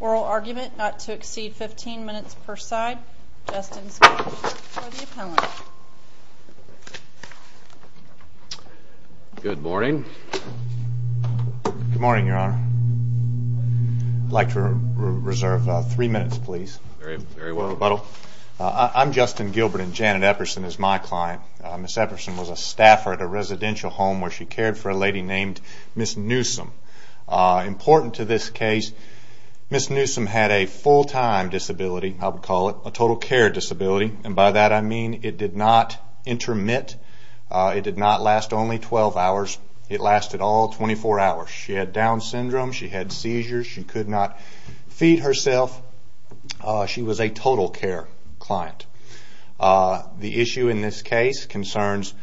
oral argument, not to exceed 15 minutes per side. Justin Scott for the appellant. Good morning. Good morning, Your Honor. I'd like to reserve three minutes, please. Very well done. Thank you. I'm Justin Gilbert, and Janet Epperson is my client. Ms. Epperson was a staffer at a residential home where she cared for a lady named Ms. Newsome. Important to this case, Ms. Newsome had a full-time disability, I would call it, a total care disability, and by that I mean it did not intermit. It did not last only 12 hours. It lasted all 24 hours. She had Down syndrome. She had seizures. She could not feed herself. She was a total care client. The issue in this case concerns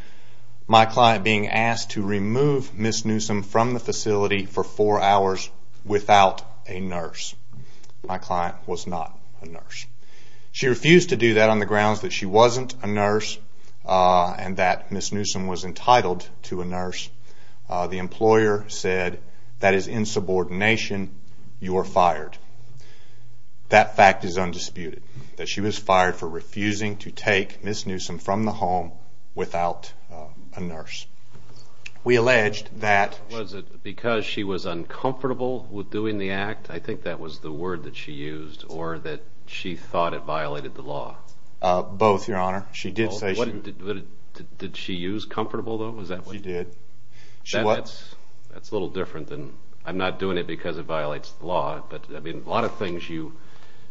my client being asked to remove Ms. Newsome from the facility for four hours without a nurse. My client was not a nurse. She refused to do that on the grounds that she wasn't a nurse and that Ms. Newsome was entitled to a nurse. The employer said, that is insubordination. You are fired. That fact is undisputed, that she was fired for refusing to take Ms. Newsome from the home without a nurse. Was it because she was uncomfortable with doing the act? I think that was the word that she used, or that she thought it violated the law? Both, Your Honor. Did she use comfortable, though? She did. That's a little different. I'm not doing it because it violates the law, but a lot of things you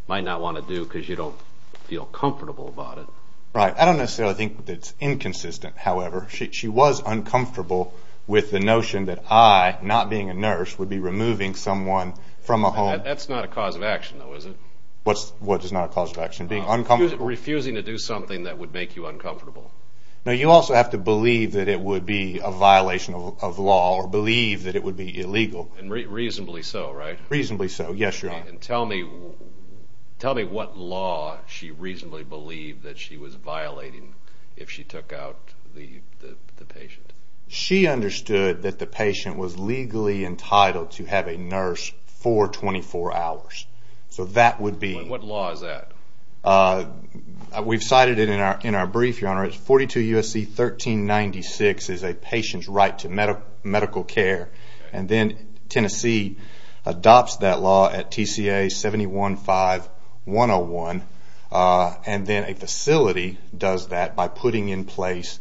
might not want to do because you don't feel comfortable about it. I don't necessarily think it's inconsistent, however. She was uncomfortable with the notion that I, not being a nurse, would be removing someone from a home. That's not a cause of action, though, is it? Refusing to do something that would make you uncomfortable. You also have to believe that it would be a violation of law, or believe that it would be illegal. Reasonably so, right? Tell me what law she reasonably believed that she was violating if she took out the patient. She understood that the patient was legally entitled to have a nurse for 24 hours. What law is that? We've cited it in our brief, Your Honor. 42 U.S.C. 1396 is a patient's right to medical care, and then Tennessee adopts that law at TCA 715-101, and then a facility does that by putting in place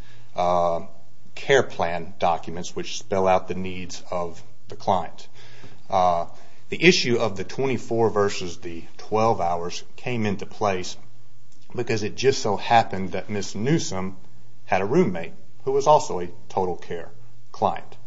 care plan documents which spell out the needs of the client. The issue of the 24 versus the 12 hours came into place because it just so happened that Ms. Newsom had a roommate who was also a total care client.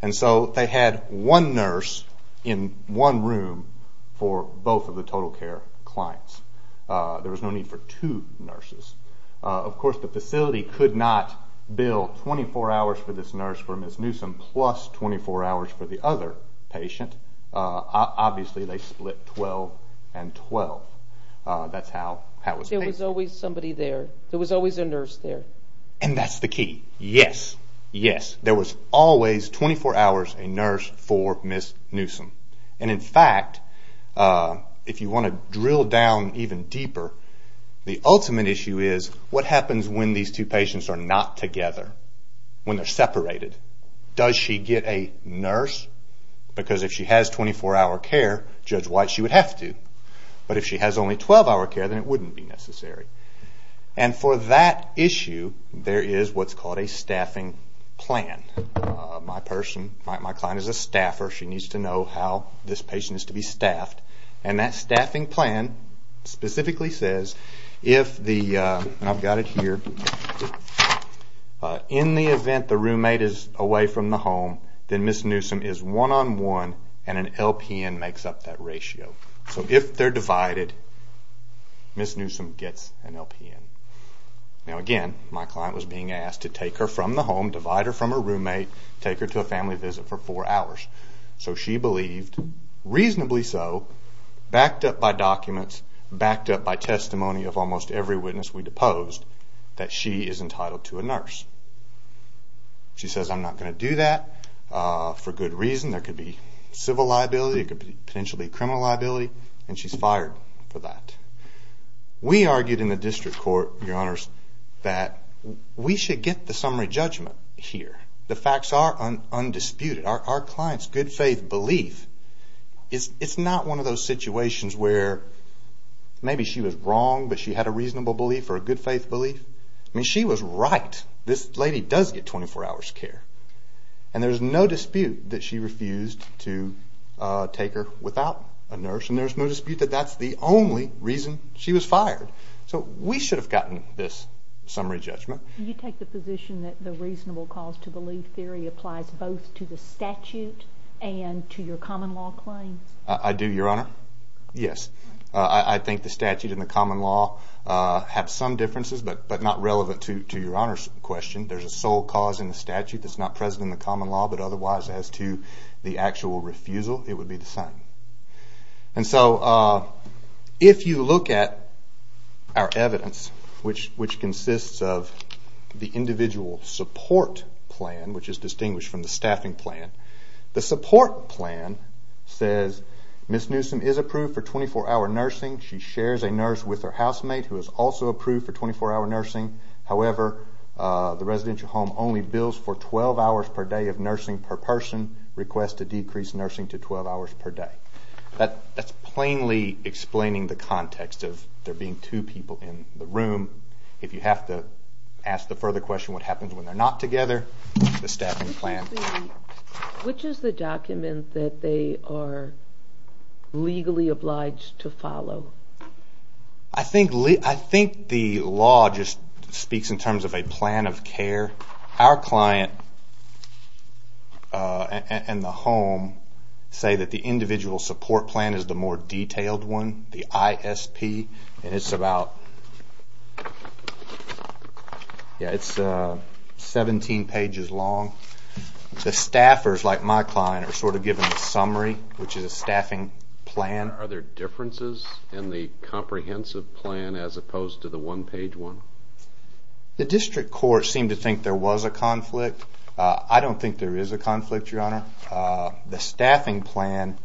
They had one nurse in one room for both of the total care clients. There was no need for two nurses. Of course the facility could not bill 24 hours for this nurse for Ms. Newsom plus 24 hours for the other patient. Obviously they split 12 and 12. There was always a nurse there. Yes, there was always 24 hours a nurse for Ms. Newsom. In fact, if you want to drill down even deeper, the ultimate issue is what happens when these two patients are not together, when they're separated? Does she get a nurse? If she has only 12 hour care, then it wouldn't be necessary. For that issue, there is what's called a staffing plan. My client is a staffer. She needs to know how this patient is to be staffed. That staffing plan specifically says, in the event the roommate is away from the home, then Ms. Newsom is one-on-one and an LPN makes up that ratio. If they're divided, Ms. Newsom gets an LPN. Again, my client was being asked to take her from the home, divide her from her roommate, take her to a family visit for four hours. She believed, reasonably so, backed up by documents, backed up by testimony of almost every witness we deposed, that she is entitled to a nurse. She says, I'm not going to do that for good reason. There could be civil liability. It could potentially be criminal liability. She's fired for that. We argued in the district court that we should get the summary judgment here. The facts are undisputed. It's not one of those situations where maybe she was wrong, but she had a reasonable belief or a good faith belief. She was right. This lady does get 24 hours care. There's no dispute that she refused to take her without a nurse. There's no dispute that that's the only reason she was fired. We should have gotten this summary judgment. I do, Your Honor. I think the statute and the common law have some differences, but not relevant to Your Honor's question. There's a sole cause in the statute that's not present in the common law, but otherwise, as to the actual refusal, it would be the same. If you look at our evidence, which consists of the individual support plan, which is distinguished from the staffing plan, the support plan says Ms. Newsom is approved for 24-hour nursing. She shares a nurse with her housemate who is also approved for 24-hour nursing. However, the residential home only bills for 12 hours per day of nursing per person. Request to decrease nursing to 12 hours per day. That's plainly explaining the context of there being two people in the room. If you have to ask the further question what happens when they're not together, the staffing plan. Which is the document that they are legally obliged to follow? I think the law just speaks in terms of a plan of care. Our client and the home say that the individual support plan is the more detailed one, the ISP, and it's about 17 pages long. The staffers, like my client, are sort of given a summary, which is a staffing plan. Are there differences in the comprehensive plan as opposed to the one-page one? The district court seemed to think there was a conflict. I don't think there is a conflict, Your Honor. The staffing plan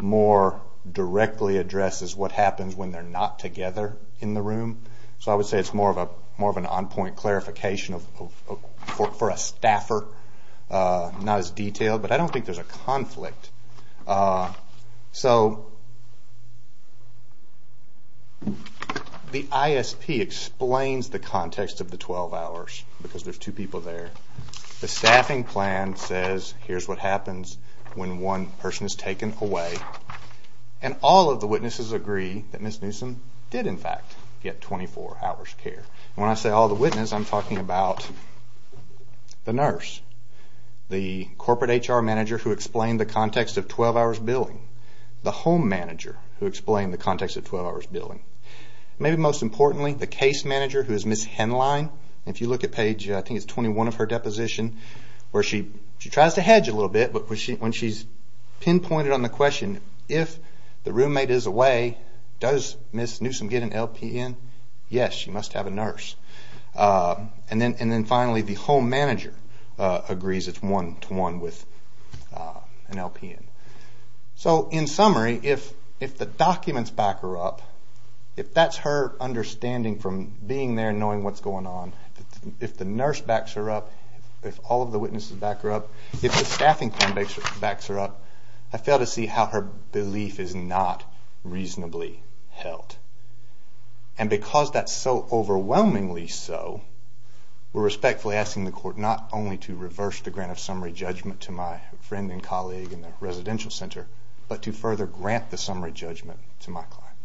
more directly addresses what happens when they're not together in the room. So I would say it's more of an on-point clarification for a staffer, not as detailed. But I don't think there's a conflict. The ISP explains the context of the 12 hours, because there's two people there. The staffing plan says here's what happens when one person is taken away. And all of the witnesses agree that Ms. Newsom did, in fact, get 24 hours care. When I say all the witnesses, I'm talking about the nurse, the corporate HR manager who explained the context of 12 hours billing, the home manager who explained the context of 12 hours billing, and maybe most importantly, the case manager, who is Ms. Henline. If you look at page 21 of her deposition, she tries to hedge a little bit, but when she's pinpointed on the question, if the roommate is away, does Ms. Newsom get an LPN? Yes, she must have a nurse. And then finally, the home manager agrees it's one-to-one with an LPN. So in summary, if the documents back her up, if that's her understanding from being there and knowing what's going on, if the nurse backs her up, if all of the witnesses back her up, if the staffing plan backs her up, I fail to see how her belief is not reasonably held. And because that's so overwhelmingly so, we're respectfully asking the court not only to reverse the grant of summary judgment to my friend and colleague in the residential center, but to further grant the summary judgment to my client.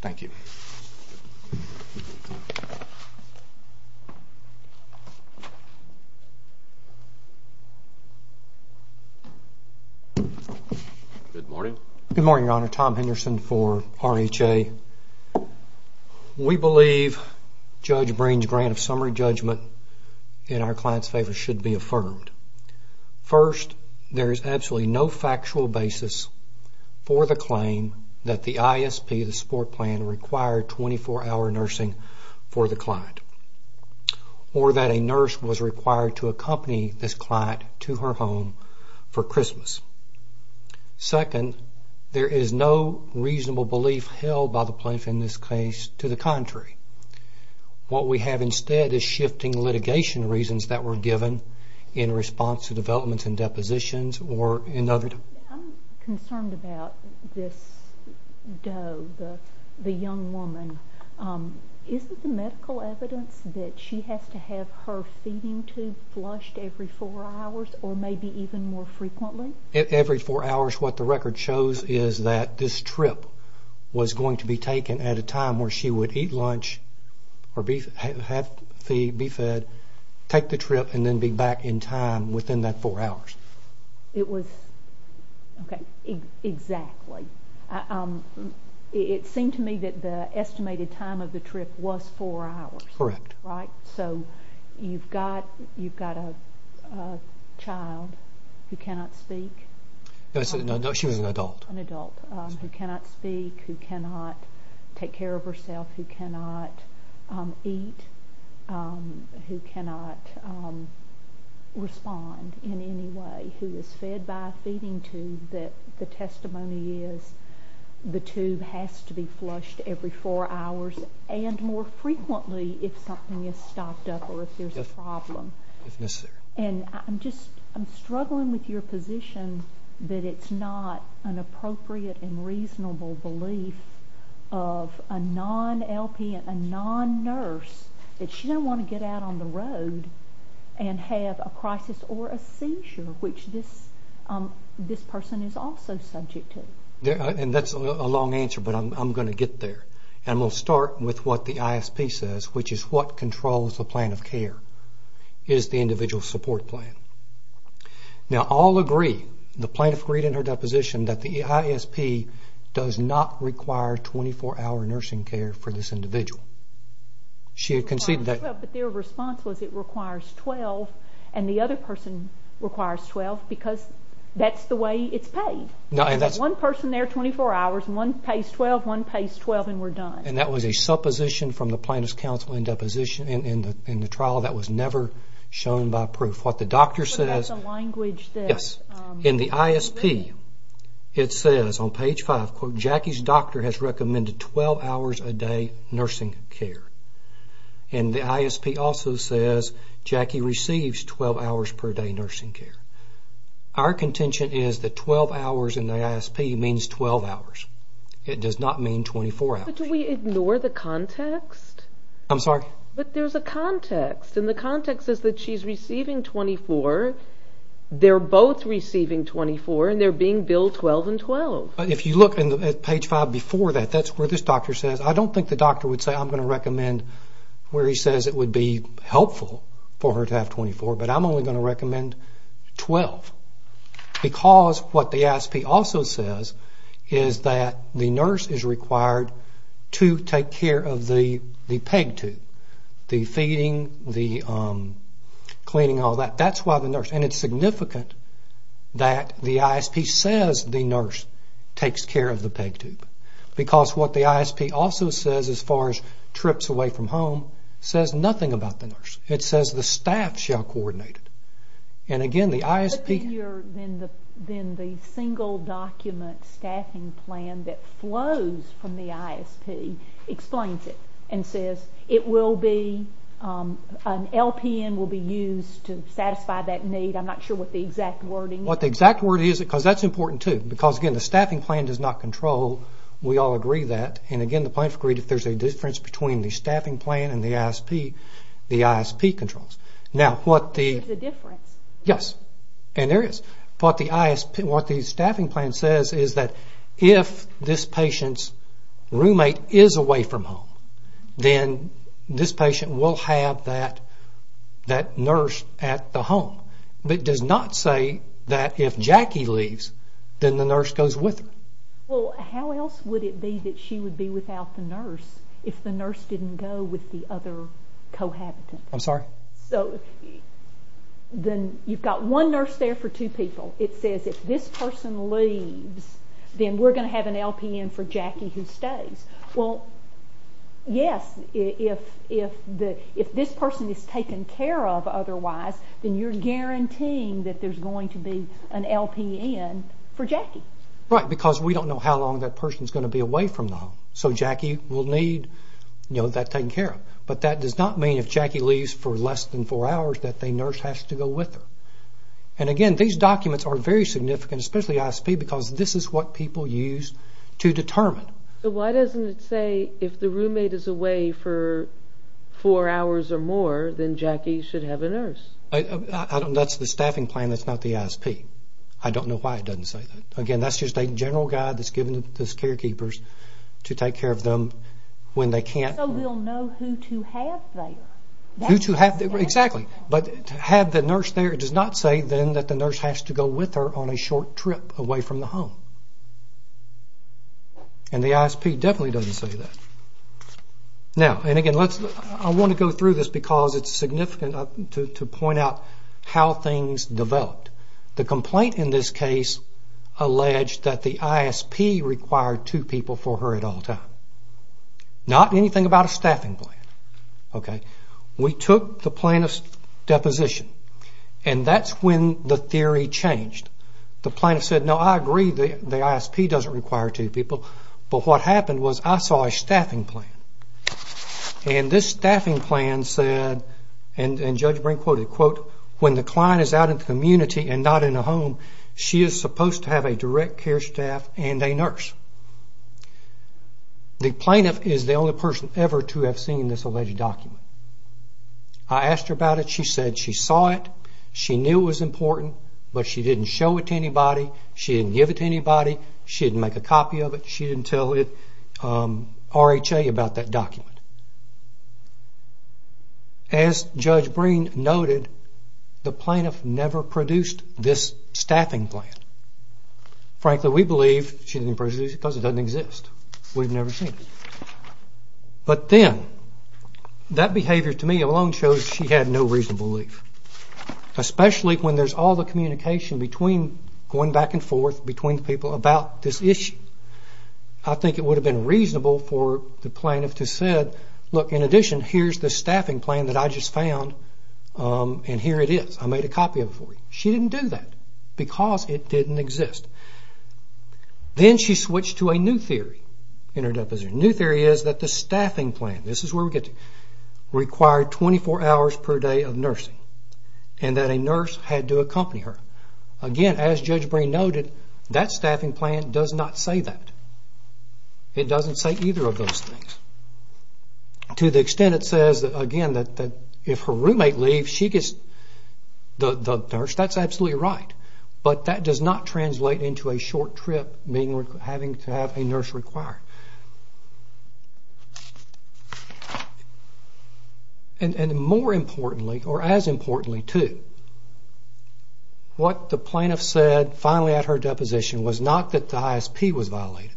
Thank you. Good morning, Your Honor. Tom Henderson for RHA. We believe Judge Breen's grant of summary judgment in our client's favor should be affirmed. First, there is absolutely no factual basis for the claim that the ISP, the support plan, required 24-hour nursing for the client, or that a nurse was required to accompany this client to her home for Christmas. Second, there is no reasonable belief held by the plaintiff in this case. To the contrary, what we have instead is shifting litigation reasons that were given in response to developments and depositions or in other terms. I'm concerned about this Doe, the young woman. Isn't the medical evidence that she has to have her feeding tube flushed every four hours or maybe even more frequently? Every four hours. What the record shows is that this trip was going to be taken at a time where she would eat lunch or have feed, be fed, take the trip, and then be back in time within that four hours. Okay. Exactly. It seemed to me that the estimated time of the trip was four hours. Correct. You've got a child who cannot speak. No, she was an adult. Who cannot speak, who cannot take care of herself, who cannot eat, who cannot respond in any way, who is fed by a feeding tube. The testimony is the tube has to be flushed every four hours and more frequently if something is stopped up or if there's a problem. If necessary. I'm struggling with your position that it's not an appropriate and reasonable belief of a non-LP and a non-nurse that she doesn't want to get out on the road and have a crisis or a seizure, which this person is also subject to. That's a long answer, but I'm going to get there. We'll start with what the ISP says, which is what controls the plan of care. It is the individual support plan. Now, all agree, the plaintiff agreed in her deposition that the ISP does not require 24-hour nursing care for this individual. She had conceded that. But their response was it requires 12 and the other person requires 12 because that's the way it's paid. One person there 24 hours, one pays 12, one pays 12 and we're done. And that was a supposition from the plaintiff's counsel in the trial that was never shown by proof. In the ISP, it says on page 5, Jackie's doctor has recommended 12 hours a day nursing care. And the ISP also says Jackie receives 12 hours per day nursing care. Our contention is that 12 hours in the ISP means 12 hours. It does not mean 24 hours. But do we ignore the context? I'm sorry? But there's a context. And the context is that she's receiving 24, they're both receiving 24, and they're being billed 12 and 12. If you look at page 5 before that, that's where this doctor says, I don't think the doctor would say I'm going to recommend where he says it would be helpful for her to have 24, but I'm only going to recommend 12. Because what the ISP also says is that the nurse is required to take care of the PEG tube, the feeding, the cleaning, all that. That's why the nurse, and it's significant that the ISP says the nurse takes care of the PEG tube. Because what the ISP also says as far as trips away from home says nothing about the nurse. It says the staff shall coordinate it. But then the single document staffing plan that flows from the ISP explains it and says an LPN will be used to satisfy that need. I'm not sure what the exact wording is. Because that's important too. Because again, the staffing plan does not control, we all agree that. And again, if there's a difference between the staffing plan and the ISP, the ISP controls. What the staffing plan says is that if this patient's roommate is away from home, then this patient will have that nurse at the home. But it does not say that if Jackie leaves, then the nurse goes with her. Well, how else would it be that she would be without the nurse if the nurse didn't go with the other cohabitant? I'm sorry? You've got one nurse there for two people. It says if this person leaves, then we're going to have an LPN for Jackie who stays. Well, yes, if this person is taken care of otherwise, then you're guaranteeing that there's going to be an LPN for Jackie. Right, because we don't know how long that person's going to be away from the home. So Jackie will need that taken care of. But that does not mean if Jackie leaves for less than four hours that the nurse has to go with her. And again, these documents are very significant, especially ISP, because this is what people use to determine. That's the staffing plan, that's not the ISP. I don't know why it doesn't say that. So we'll know who to have there. It does not say then that the nurse has to go with her on a short trip away from the home. And the ISP definitely doesn't say that. I want to go through this because it's significant to point out how things developed. The complaint in this case alleged that the ISP required two people for her at all times. Not anything about a staffing plan. We took the plaintiff's deposition, and that's when the theory changed. The plaintiff said, no, I agree the ISP doesn't require two people, but what happened was I saw a staffing plan. And this staffing plan said, and Judge Brink quoted, when the client is out in the community and not in a home, she is supposed to have a direct care staff and a nurse. The plaintiff is the only person ever to have seen this alleged document. I asked her about it, she said she saw it, she knew it was important, but she didn't show it to anybody, she didn't give it to anybody, she didn't make a copy of it, As Judge Brink noted, the plaintiff never produced this staffing plan. Frankly, we believe she didn't produce it because it doesn't exist, we've never seen it. But then, that behavior to me alone shows she had no reasonable belief. Especially when there's all the communication going back and forth between people about this issue. I think it would have been reasonable for the plaintiff to have said, look, in addition, here's the staffing plan that I just found, and here it is, I made a copy of it for you. She didn't do that because it didn't exist. Then she switched to a new theory. The new theory is that the staffing plan required 24 hours per day of nursing, and that a nurse had to accompany her. Again, as Judge Brink noted, that staffing plan does not say that. It doesn't say either of those things. To the extent it says, again, that if her roommate leaves, she gets the nurse, that's absolutely right. But that does not translate into a short trip having to have a nurse required. And more importantly, or as importantly too, what the plaintiff said finally at her deposition was not that the ISP was violated,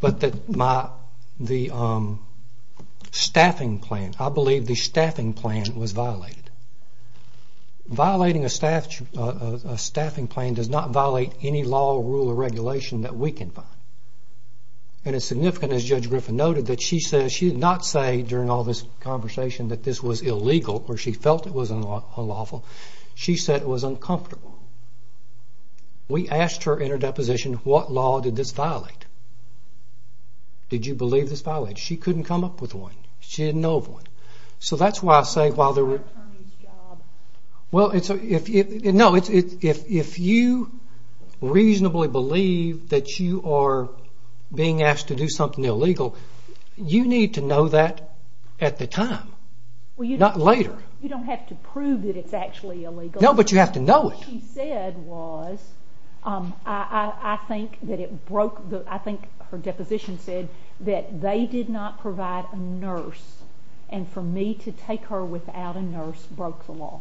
but that the staffing plan, I believe the staffing plan was violated. Violating a staffing plan does not violate any law, rule, or regulation that we can find. And as significant as Judge Griffin noted, she did not say during all this conversation that this was illegal, or she felt it was unlawful, she said it was uncomfortable. We asked her in her deposition, what law did this violate? Did you believe this violated? She couldn't come up with one. She didn't know of one. So that's why I say... No, if you reasonably believe that you are being asked to do something illegal, you need to know that at the time, not later. You don't have to prove that it's actually illegal. No, but you have to know it. What she said was... I think her deposition said that they did not provide a nurse, and for me to take her without a nurse broke the law.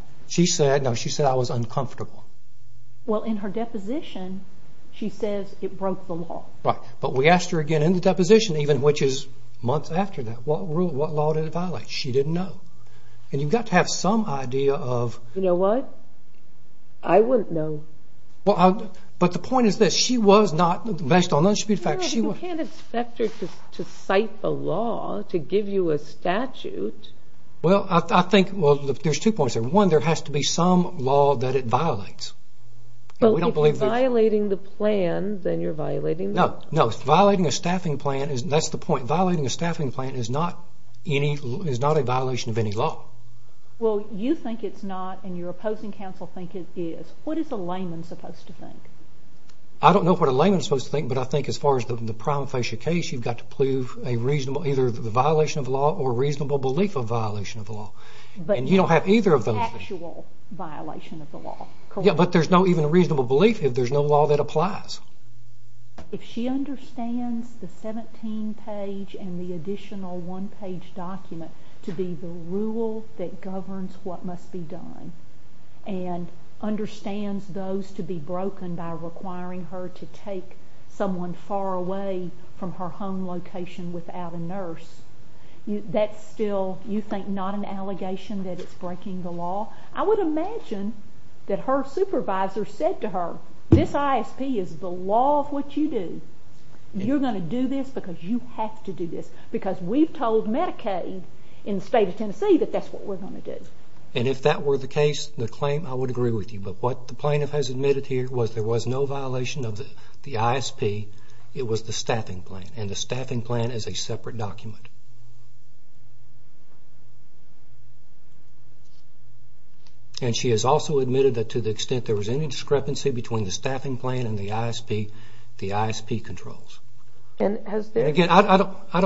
Well, in her deposition, she says it broke the law. Right, but we asked her again in the deposition, even which is months after that, what law did it violate? She didn't know. You know what? I wouldn't know. You can't expect her to cite the law to give you a statute. Well, I think there's two points here. One, there has to be some law that it violates. Well, if you're violating the plan, then you're violating the law. No, that's the point. Violating a staffing plan is not a violation of any law. Well, you think it's not, and your opposing counsel think it is. What is a layman supposed to think? I don't know what a layman is supposed to think, but I think as far as the prima facie case, you've got to prove either a violation of the law or a reasonable belief of a violation of the law. And you don't have either of those things. But there's no reasonable belief if there's no law that applies. If she understands the 17-page and the additional one-page document to be the rule that governs what must be done, and understands those to be broken by requiring her to take someone far away from her home location without a nurse, that's still, you think, not an allegation that it's breaking the law? I would imagine that her supervisor said to her, this ISP is the law of what you do. You're going to do this because you have to do this. Because we've told Medicaid in the state of Tennessee that that's what we're going to do. And if that were the case, the claim, I would agree with you. But what the plaintiff has admitted here was there was no violation of the ISP. It was the staffing plan, and the staffing plan is a separate document. And she has also admitted that to the extent there was any discrepancy between the staffing plan and the ISP, the ISP controls. Again, I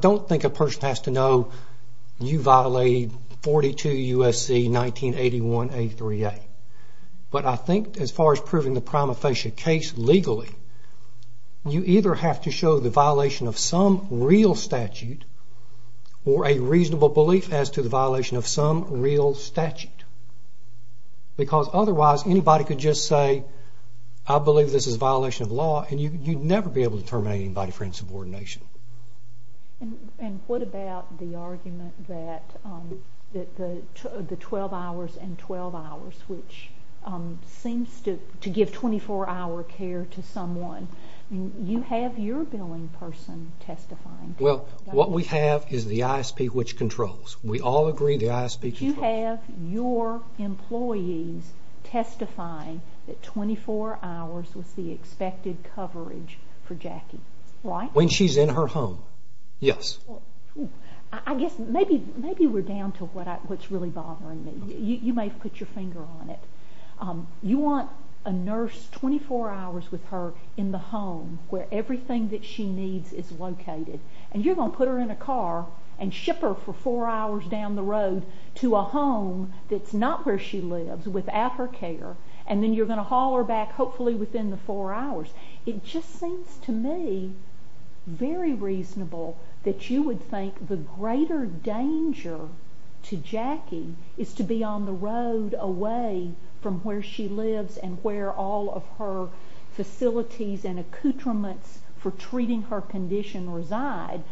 don't think a person has to know you violated 42 U.S.C. 1981-A3A. But I think as far as proving the prima facie case legally, you either have to show the violation of some real statute, or a reasonable belief as to the violation of some real statute. Because otherwise, anybody could just say, I believe this is a violation of law, and you'd never be able to terminate anybody for insubordination. And what about the argument that the 12 hours and 12 hours, which seems to give 24-hour care to someone, you have your billing person testifying. Well, what we have is the ISP, which controls. We all agree the ISP controls. But you have your employees testifying that 24 hours was the expected coverage for Jackie, right? When she's in her home, yes. I guess maybe we're down to what's really bothering me. You may have put your finger on it. You want a nurse 24 hours with her in the home where everything that she needs is located. And you're going to put her in a car and ship her for 4 hours down the road to a home that's not where she lives without her care, and then you're going to haul her back hopefully within the 4 hours. It just seems to me very reasonable that you would think the greater danger to Jackie is to be on the road away from where she lives and where all of her facilities and accoutrements for treating her condition reside.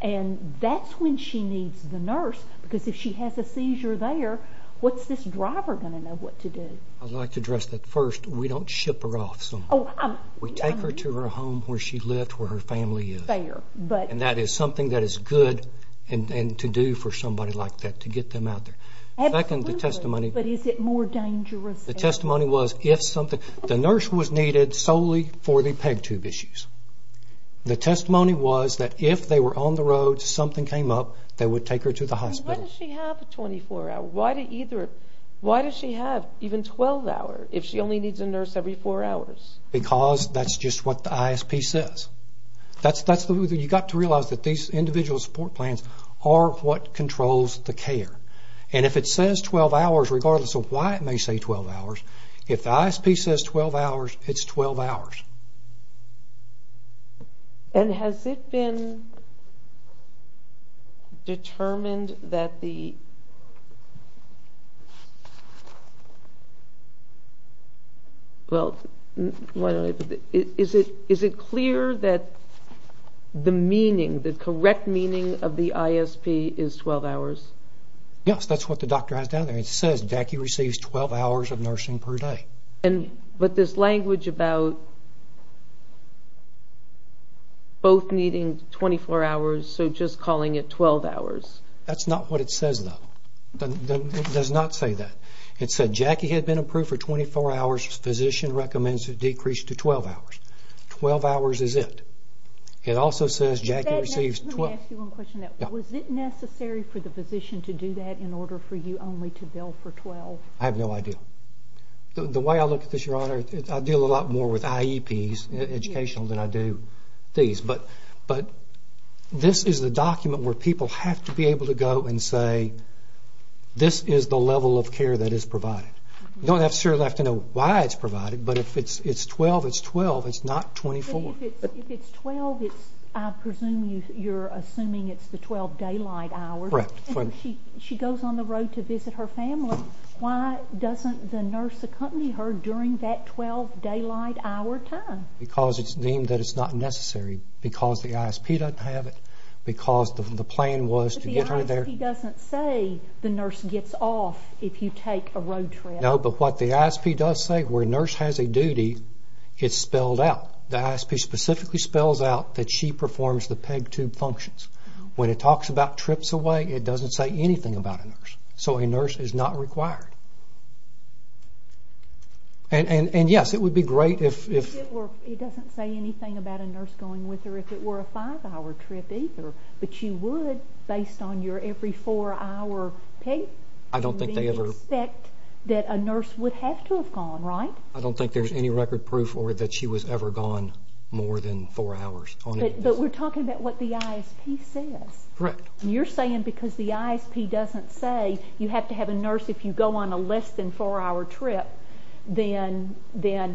And that's when she needs the nurse because if she has a seizure there, what's this driver going to know what to do? I'd like to address that first. We don't ship her off somewhere. We take her to her home where she lives, where her family is. Fair. And that is something that is good to do for somebody like that, to get them out there. Absolutely. But is it more dangerous? The testimony was the nurse was needed solely for the PEG tube issues. The testimony was that if they were on the road, something came up, they would take her to the hospital. Why does she have 24 hours? Why does she have even 12 hours if she only needs a nurse every 4 hours? Because that's just what the ISP says. You've got to realize that these individual support plans are what controls the care. And if it says 12 hours, regardless of why it may say 12 hours, if the ISP says 12 hours, it's 12 hours. And has it been determined that the – Well, is it clear that the meaning, the correct meaning of the ISP is 12 hours? Yes, that's what the doctor has down there. It says Jackie receives 12 hours of nursing per day. But this language about both needing 24 hours, so just calling it 12 hours. That's not what it says, though. It does not say that. It said Jackie had been approved for 24 hours. Physician recommends a decrease to 12 hours. 12 hours is it. It also says Jackie receives 12 – Let me ask you one question. Was it necessary for the physician to do that in order for you only to bill for 12? I have no idea. The way I look at this, Your Honor, I deal a lot more with IEPs, educational, than I do these. But this is the document where people have to be able to go and say, this is the level of care that is provided. You don't necessarily have to know why it's provided, but if it's 12, it's 12. It's not 24. If it's 12, I presume you're assuming it's the 12 daylight hours. Correct. She goes on the road to visit her family. Why doesn't the nurse accompany her during that 12 daylight hour time? Because it's deemed that it's not necessary. Because the ISP doesn't have it. Because the plan was to get her there. The ISP doesn't say the nurse gets off if you take a road trip. No, but what the ISP does say, where a nurse has a duty, it's spelled out. The ISP specifically spells out that she performs the PEG tube functions. When it talks about trips away, it doesn't say anything about a nurse. So a nurse is not required. And, yes, it would be great if- It doesn't say anything about a nurse going with her if it were a five-hour trip either. But you would, based on your every four-hour PEG, expect that a nurse would have to have gone, right? I don't think there's any record proof that she was ever gone more than four hours. But we're talking about what the ISP says. You're saying because the ISP doesn't say you have to have a nurse if you go on a less than four-hour trip, then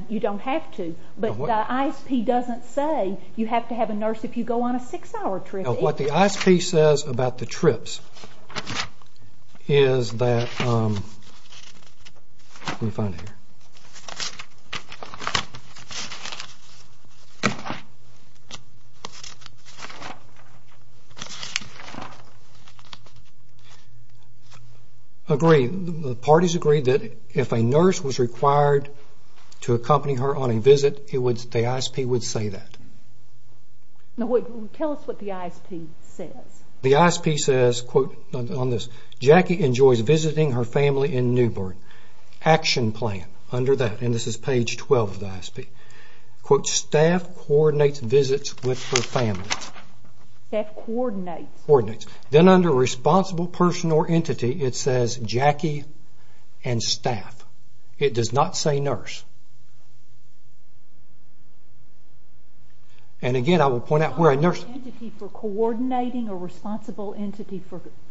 you don't have to. But the ISP doesn't say you have to have a nurse if you go on a six-hour trip. What the ISP says about the trips is that-let me find it here. Agreed. The parties agreed that if a nurse was required to accompany her on a visit, the ISP would say that. Now, tell us what the ISP says. The ISP says, quote, on this, Jackie enjoys visiting her family in Newburgh. Action plan under that, and this is page 12 of the ISP. Quote, staff coordinates visits with her family. Staff coordinates. Coordinates. Then under responsible person or entity, it says Jackie and staff. It does not say nurse. And again, I will point out where a nurse- A responsible entity for coordinating or responsible entity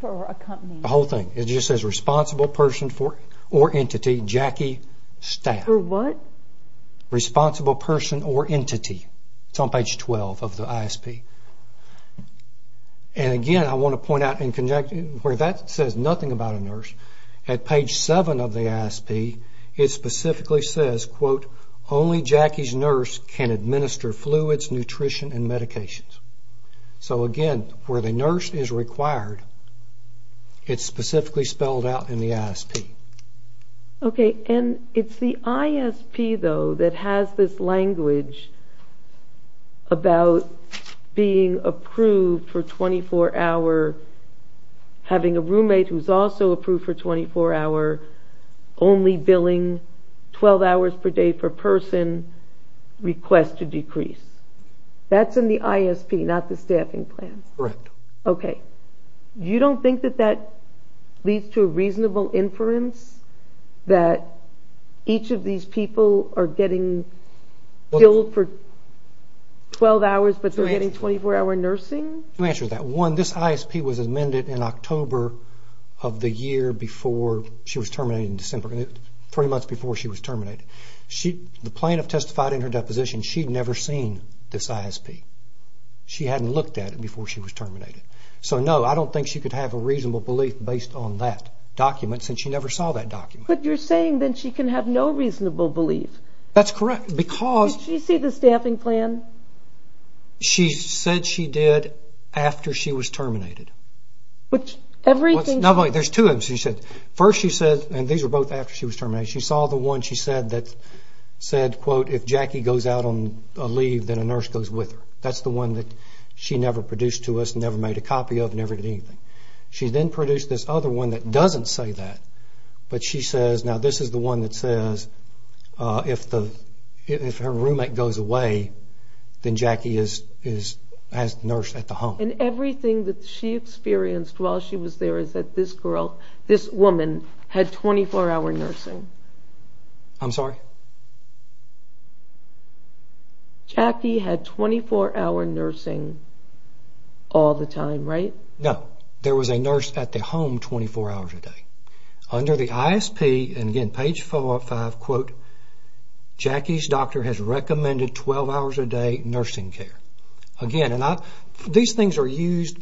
for accompanying. The whole thing. It just says responsible person or entity, Jackie, staff. For what? Responsible person or entity. It's on page 12 of the ISP. And again, I want to point out where that says nothing about a nurse. At page 7 of the ISP, it specifically says, quote, only Jackie's nurse can administer fluids, nutrition, and medications. So again, where the nurse is required, it's specifically spelled out in the ISP. Okay. And it's the ISP, though, that has this language about being approved for 24-hour, having a roommate who's also approved for 24-hour, only billing 12 hours per day per person, request to decrease. That's in the ISP, not the staffing plan. Correct. Okay. You don't think that that leads to a reasonable inference that each of these people are getting billed for 12 hours, but they're getting 24-hour nursing? Let me answer that. One, this ISP was amended in October of the year before she was terminated in December, three months before she was terminated. The plaintiff testified in her deposition she'd never seen this ISP. She hadn't looked at it before she was terminated. So, no, I don't think she could have a reasonable belief based on that document, since she never saw that document. But you're saying that she can have no reasonable belief. That's correct. Did she see the staffing plan? She said she did after she was terminated. There's two of them she said. First she said, and these are both after she was terminated, she saw the one she said that said, quote, if Jackie goes out on a leave, then a nurse goes with her. That's the one that she never produced to us, never made a copy of, never did anything. She then produced this other one that doesn't say that, but she says, now this is the one that says if her roommate goes away, then Jackie has the nurse at the home. And everything that she experienced while she was there is that this girl, this woman, had 24-hour nursing. I'm sorry? Jackie had 24-hour nursing all the time, right? No. There was a nurse at the home 24 hours a day. Under the ISP, and again, page 4 or 5, quote, Jackie's doctor has recommended 12 hours a day nursing care. Again, these things are used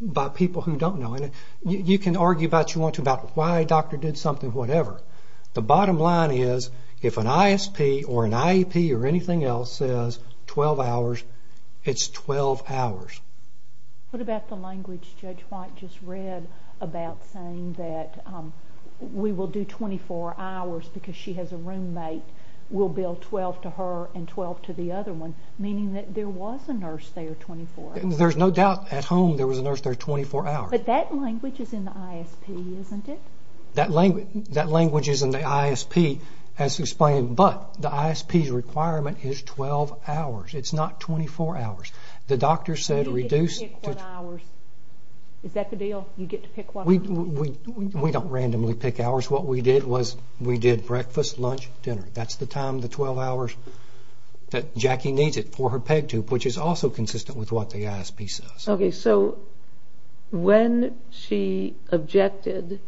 by people who don't know. You can argue about why a doctor did something, whatever. The bottom line is if an ISP or an IEP or anything else says 12 hours, it's 12 hours. What about the language Judge White just read about saying that we will do 24 hours because she has a roommate. We'll bill 12 to her and 12 to the other one, meaning that there was a nurse there 24 hours. There's no doubt at home there was a nurse there 24 hours. But that language is in the ISP, isn't it? That language is in the ISP as explained, but the ISP's requirement is 12 hours. It's not 24 hours. The doctor said reduce. You get to pick what hours. Is that the deal? You get to pick what hours? We don't randomly pick hours. What we did was we did breakfast, lunch, dinner. That's the time, the 12 hours that Jackie needs it for her PEG tube, which is also consistent with what the ISP says. Okay, so when she objected,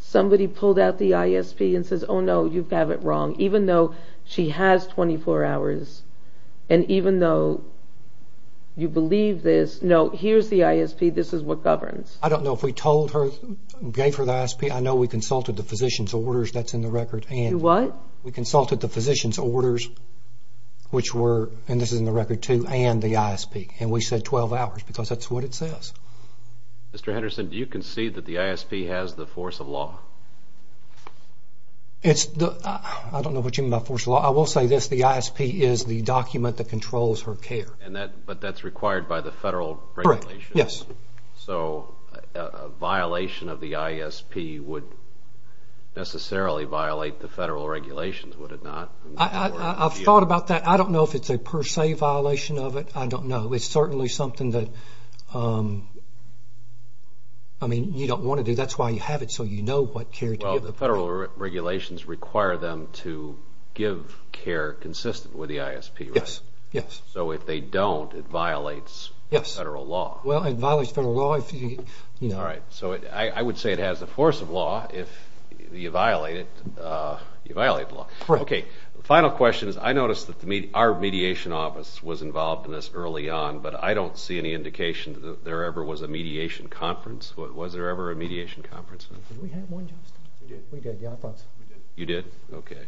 somebody pulled out the ISP and says, Oh, no, you have it wrong. Even though she has 24 hours and even though you believe this, no, here's the ISP. This is what governs. I don't know if we told her, gave her the ISP. I know we consulted the physician's orders. That's in the record. You what? We consulted the physician's orders, which were, and this is in the record too, and the ISP, and we said 12 hours because that's what it says. Mr. Henderson, do you concede that the ISP has the force of law? I don't know what you mean by force of law. I will say this. The ISP is the document that controls her care. But that's required by the federal regulations. Correct, yes. So a violation of the ISP would necessarily violate the federal regulations, would it not? I've thought about that. I don't know if it's a per se violation of it. I don't know. It's certainly something that, I mean, you don't want to do. That's why you have it so you know what care to give. Well, the federal regulations require them to give care consistent with the ISP, right? Yes, yes. So if they don't, it violates federal law. Well, it violates federal law if you, you know. All right, so I would say it has the force of law. If you violate it, you violate the law. Correct. Okay, final question is I noticed that our mediation office was involved in this early on, but I don't see any indication that there ever was a mediation conference. Was there ever a mediation conference? Did we have one, Justin? We did. We did, yeah, I thought so. You did? Okay.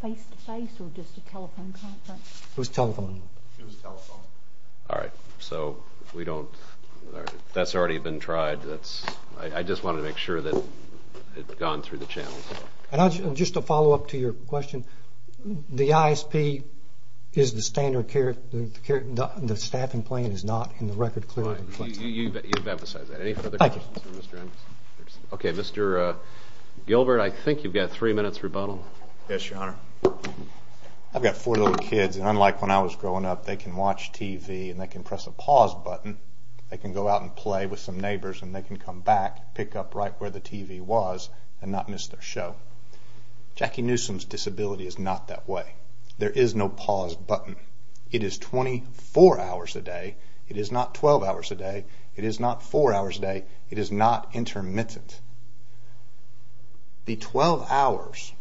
Face-to-face or just a telephone conference? It was telephone. It was telephone. All right, so we don't, that's already been tried. I just wanted to make sure that it had gone through the channels. Just to follow up to your question, the ISP is the standard care, the staffing plan is not in the record clearly. You've emphasized that. Any further questions for Mr. Anderson? Okay, Mr. Gilbert, I think you've got three minutes rebuttal. Yes, Your Honor. I've got four little kids, and unlike when I was growing up, they can watch TV and they can press a pause button, they can go out and play with some neighbors, and they can come back, pick up right where the TV was, and not miss their show. Jackie Newsom's disability is not that way. There is no pause button. It is 24 hours a day. It is not 12 hours a day. It is not four hours a day. It is not intermittent. The 12 hours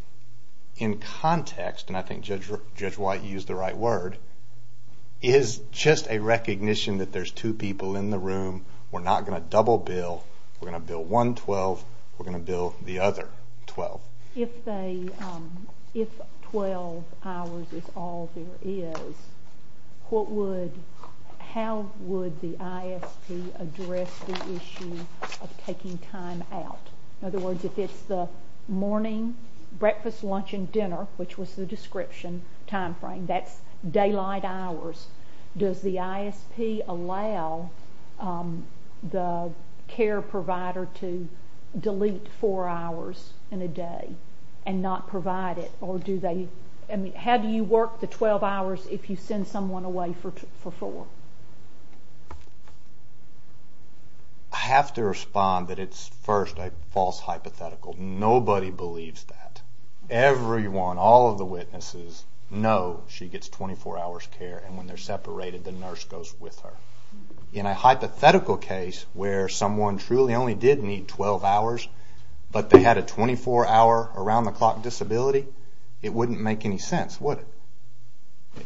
in context, and I think Judge White used the right word, is just a recognition that there's two people in the room. We're not going to double bill. We're going to bill one 12. We're going to bill the other 12. If 12 hours is all there is, how would the ISP address the issue of taking time out? In other words, if it's the morning, breakfast, lunch, and dinner, which was the description timeframe, that's daylight hours, does the ISP allow the care provider to delete four hours in a day and not provide it? How do you work the 12 hours if you send someone away for four? I have to respond that it's, first, a false hypothetical. Nobody believes that. Everyone, all of the witnesses, know she gets 24 hours care, and when they're separated, the nurse goes with her. In a hypothetical case where someone truly only did need 12 hours, but they had a 24-hour around-the-clock disability, it wouldn't make any sense, would it?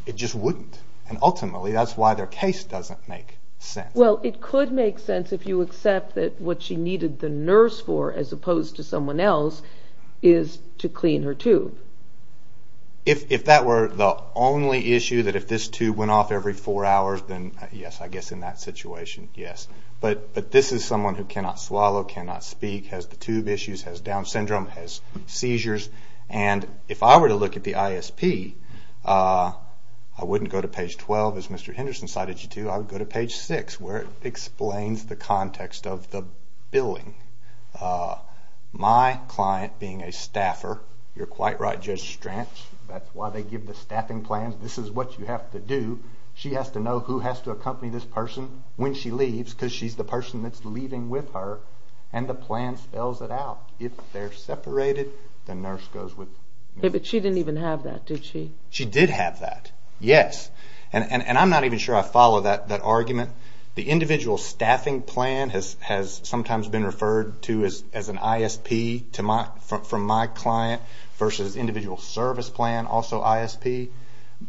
It just wouldn't, and ultimately that's why their case doesn't make sense. Well, it could make sense if you accept that what she needed the nurse for, as opposed to someone else, is to clean her tube. If that were the only issue, that if this tube went off every four hours, then yes, I guess in that situation, yes. But this is someone who cannot swallow, cannot speak, has the tube issues, has Down syndrome, has seizures. If I were to look at the ISP, I wouldn't go to page 12, as Mr. Henderson cited you to, I would go to page 6, where it explains the context of the billing. My client being a staffer, you're quite right, Judge Stranch, that's why they give the staffing plans, this is what you have to do. She has to know who has to accompany this person when she leaves, because she's the person that's leaving with her, and the plan spells it out. If they're separated, the nurse goes with the nurse. But she didn't even have that, did she? She did have that, yes. And I'm not even sure I follow that argument. The individual staffing plan has sometimes been referred to as an ISP from my client versus individual service plan, also ISP.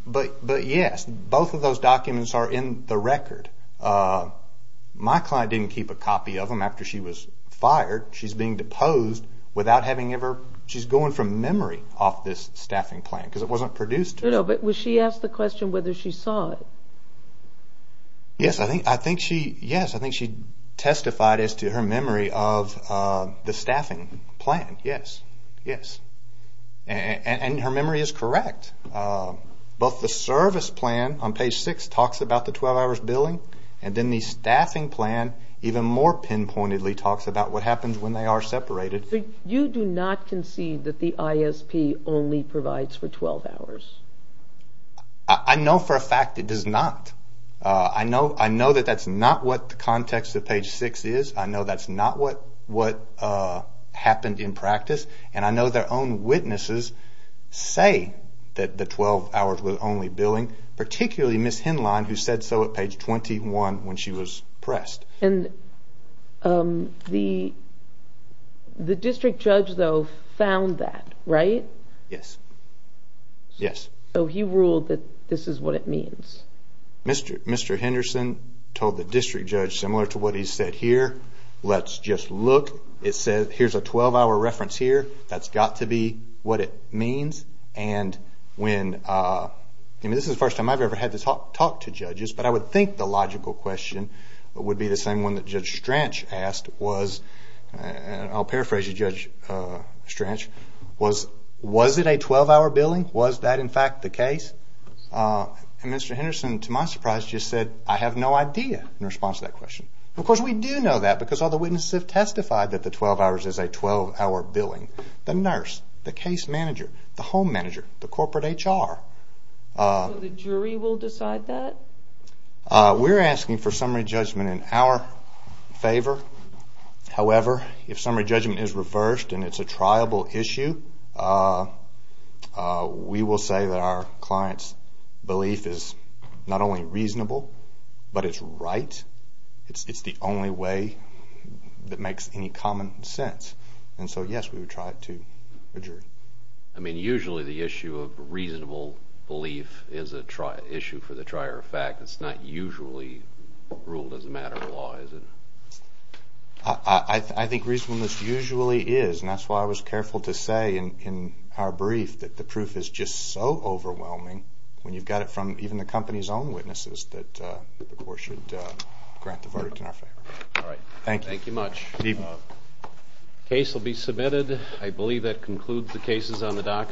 But yes, both of those documents are in the record. My client didn't keep a copy of them after she was fired. She's being deposed without having ever, she's going from memory off this staffing plan, because it wasn't produced. No, no, but was she asked the question whether she saw it? Yes, I think she testified as to her memory of the staffing plan, yes, yes. And her memory is correct. Both the service plan on page 6 talks about the 12 hours billing, and then the staffing plan even more pinpointedly talks about what happens when they are separated. You do not concede that the ISP only provides for 12 hours? I know for a fact it does not. I know that that's not what the context of page 6 is. I know that's not what happened in practice. And I know their own witnesses say that the 12 hours was only billing, particularly Ms. Hinlein, who said so at page 21 when she was pressed. And the district judge, though, found that, right? Yes, yes. So he ruled that this is what it means? Mr. Henderson told the district judge similar to what he said here, let's just look. It says here's a 12-hour reference here. That's got to be what it means. And when, I mean, this is the first time I've ever had to talk to judges, but I would think the logical question would be the same one that Judge Strach asked was, and I'll paraphrase Judge Strach, was it a 12-hour billing? Was that, in fact, the case? And Mr. Henderson, to my surprise, just said, I have no idea in response to that question. Of course, we do know that because all the witnesses have testified that the 12 hours is a 12-hour billing. The nurse, the case manager, the home manager, the corporate HR. So the jury will decide that? We're asking for summary judgment in our favor. However, if summary judgment is reversed and it's a triable issue, we will say that our client's belief is not only reasonable, but it's right. It's the only way that makes any common sense. And so, yes, we would try it to a jury. I mean, usually the issue of reasonable belief is an issue for the trier of fact. It's not usually ruled as a matter of law, is it? I think reasonableness usually is, and that's why I was careful to say in our brief that the proof is just so overwhelming when you've got it from even the company's own witnesses that the court should grant the verdict in our favor. All right. Thank you. Thank you much. The case will be submitted. I believe that concludes the cases on the docket.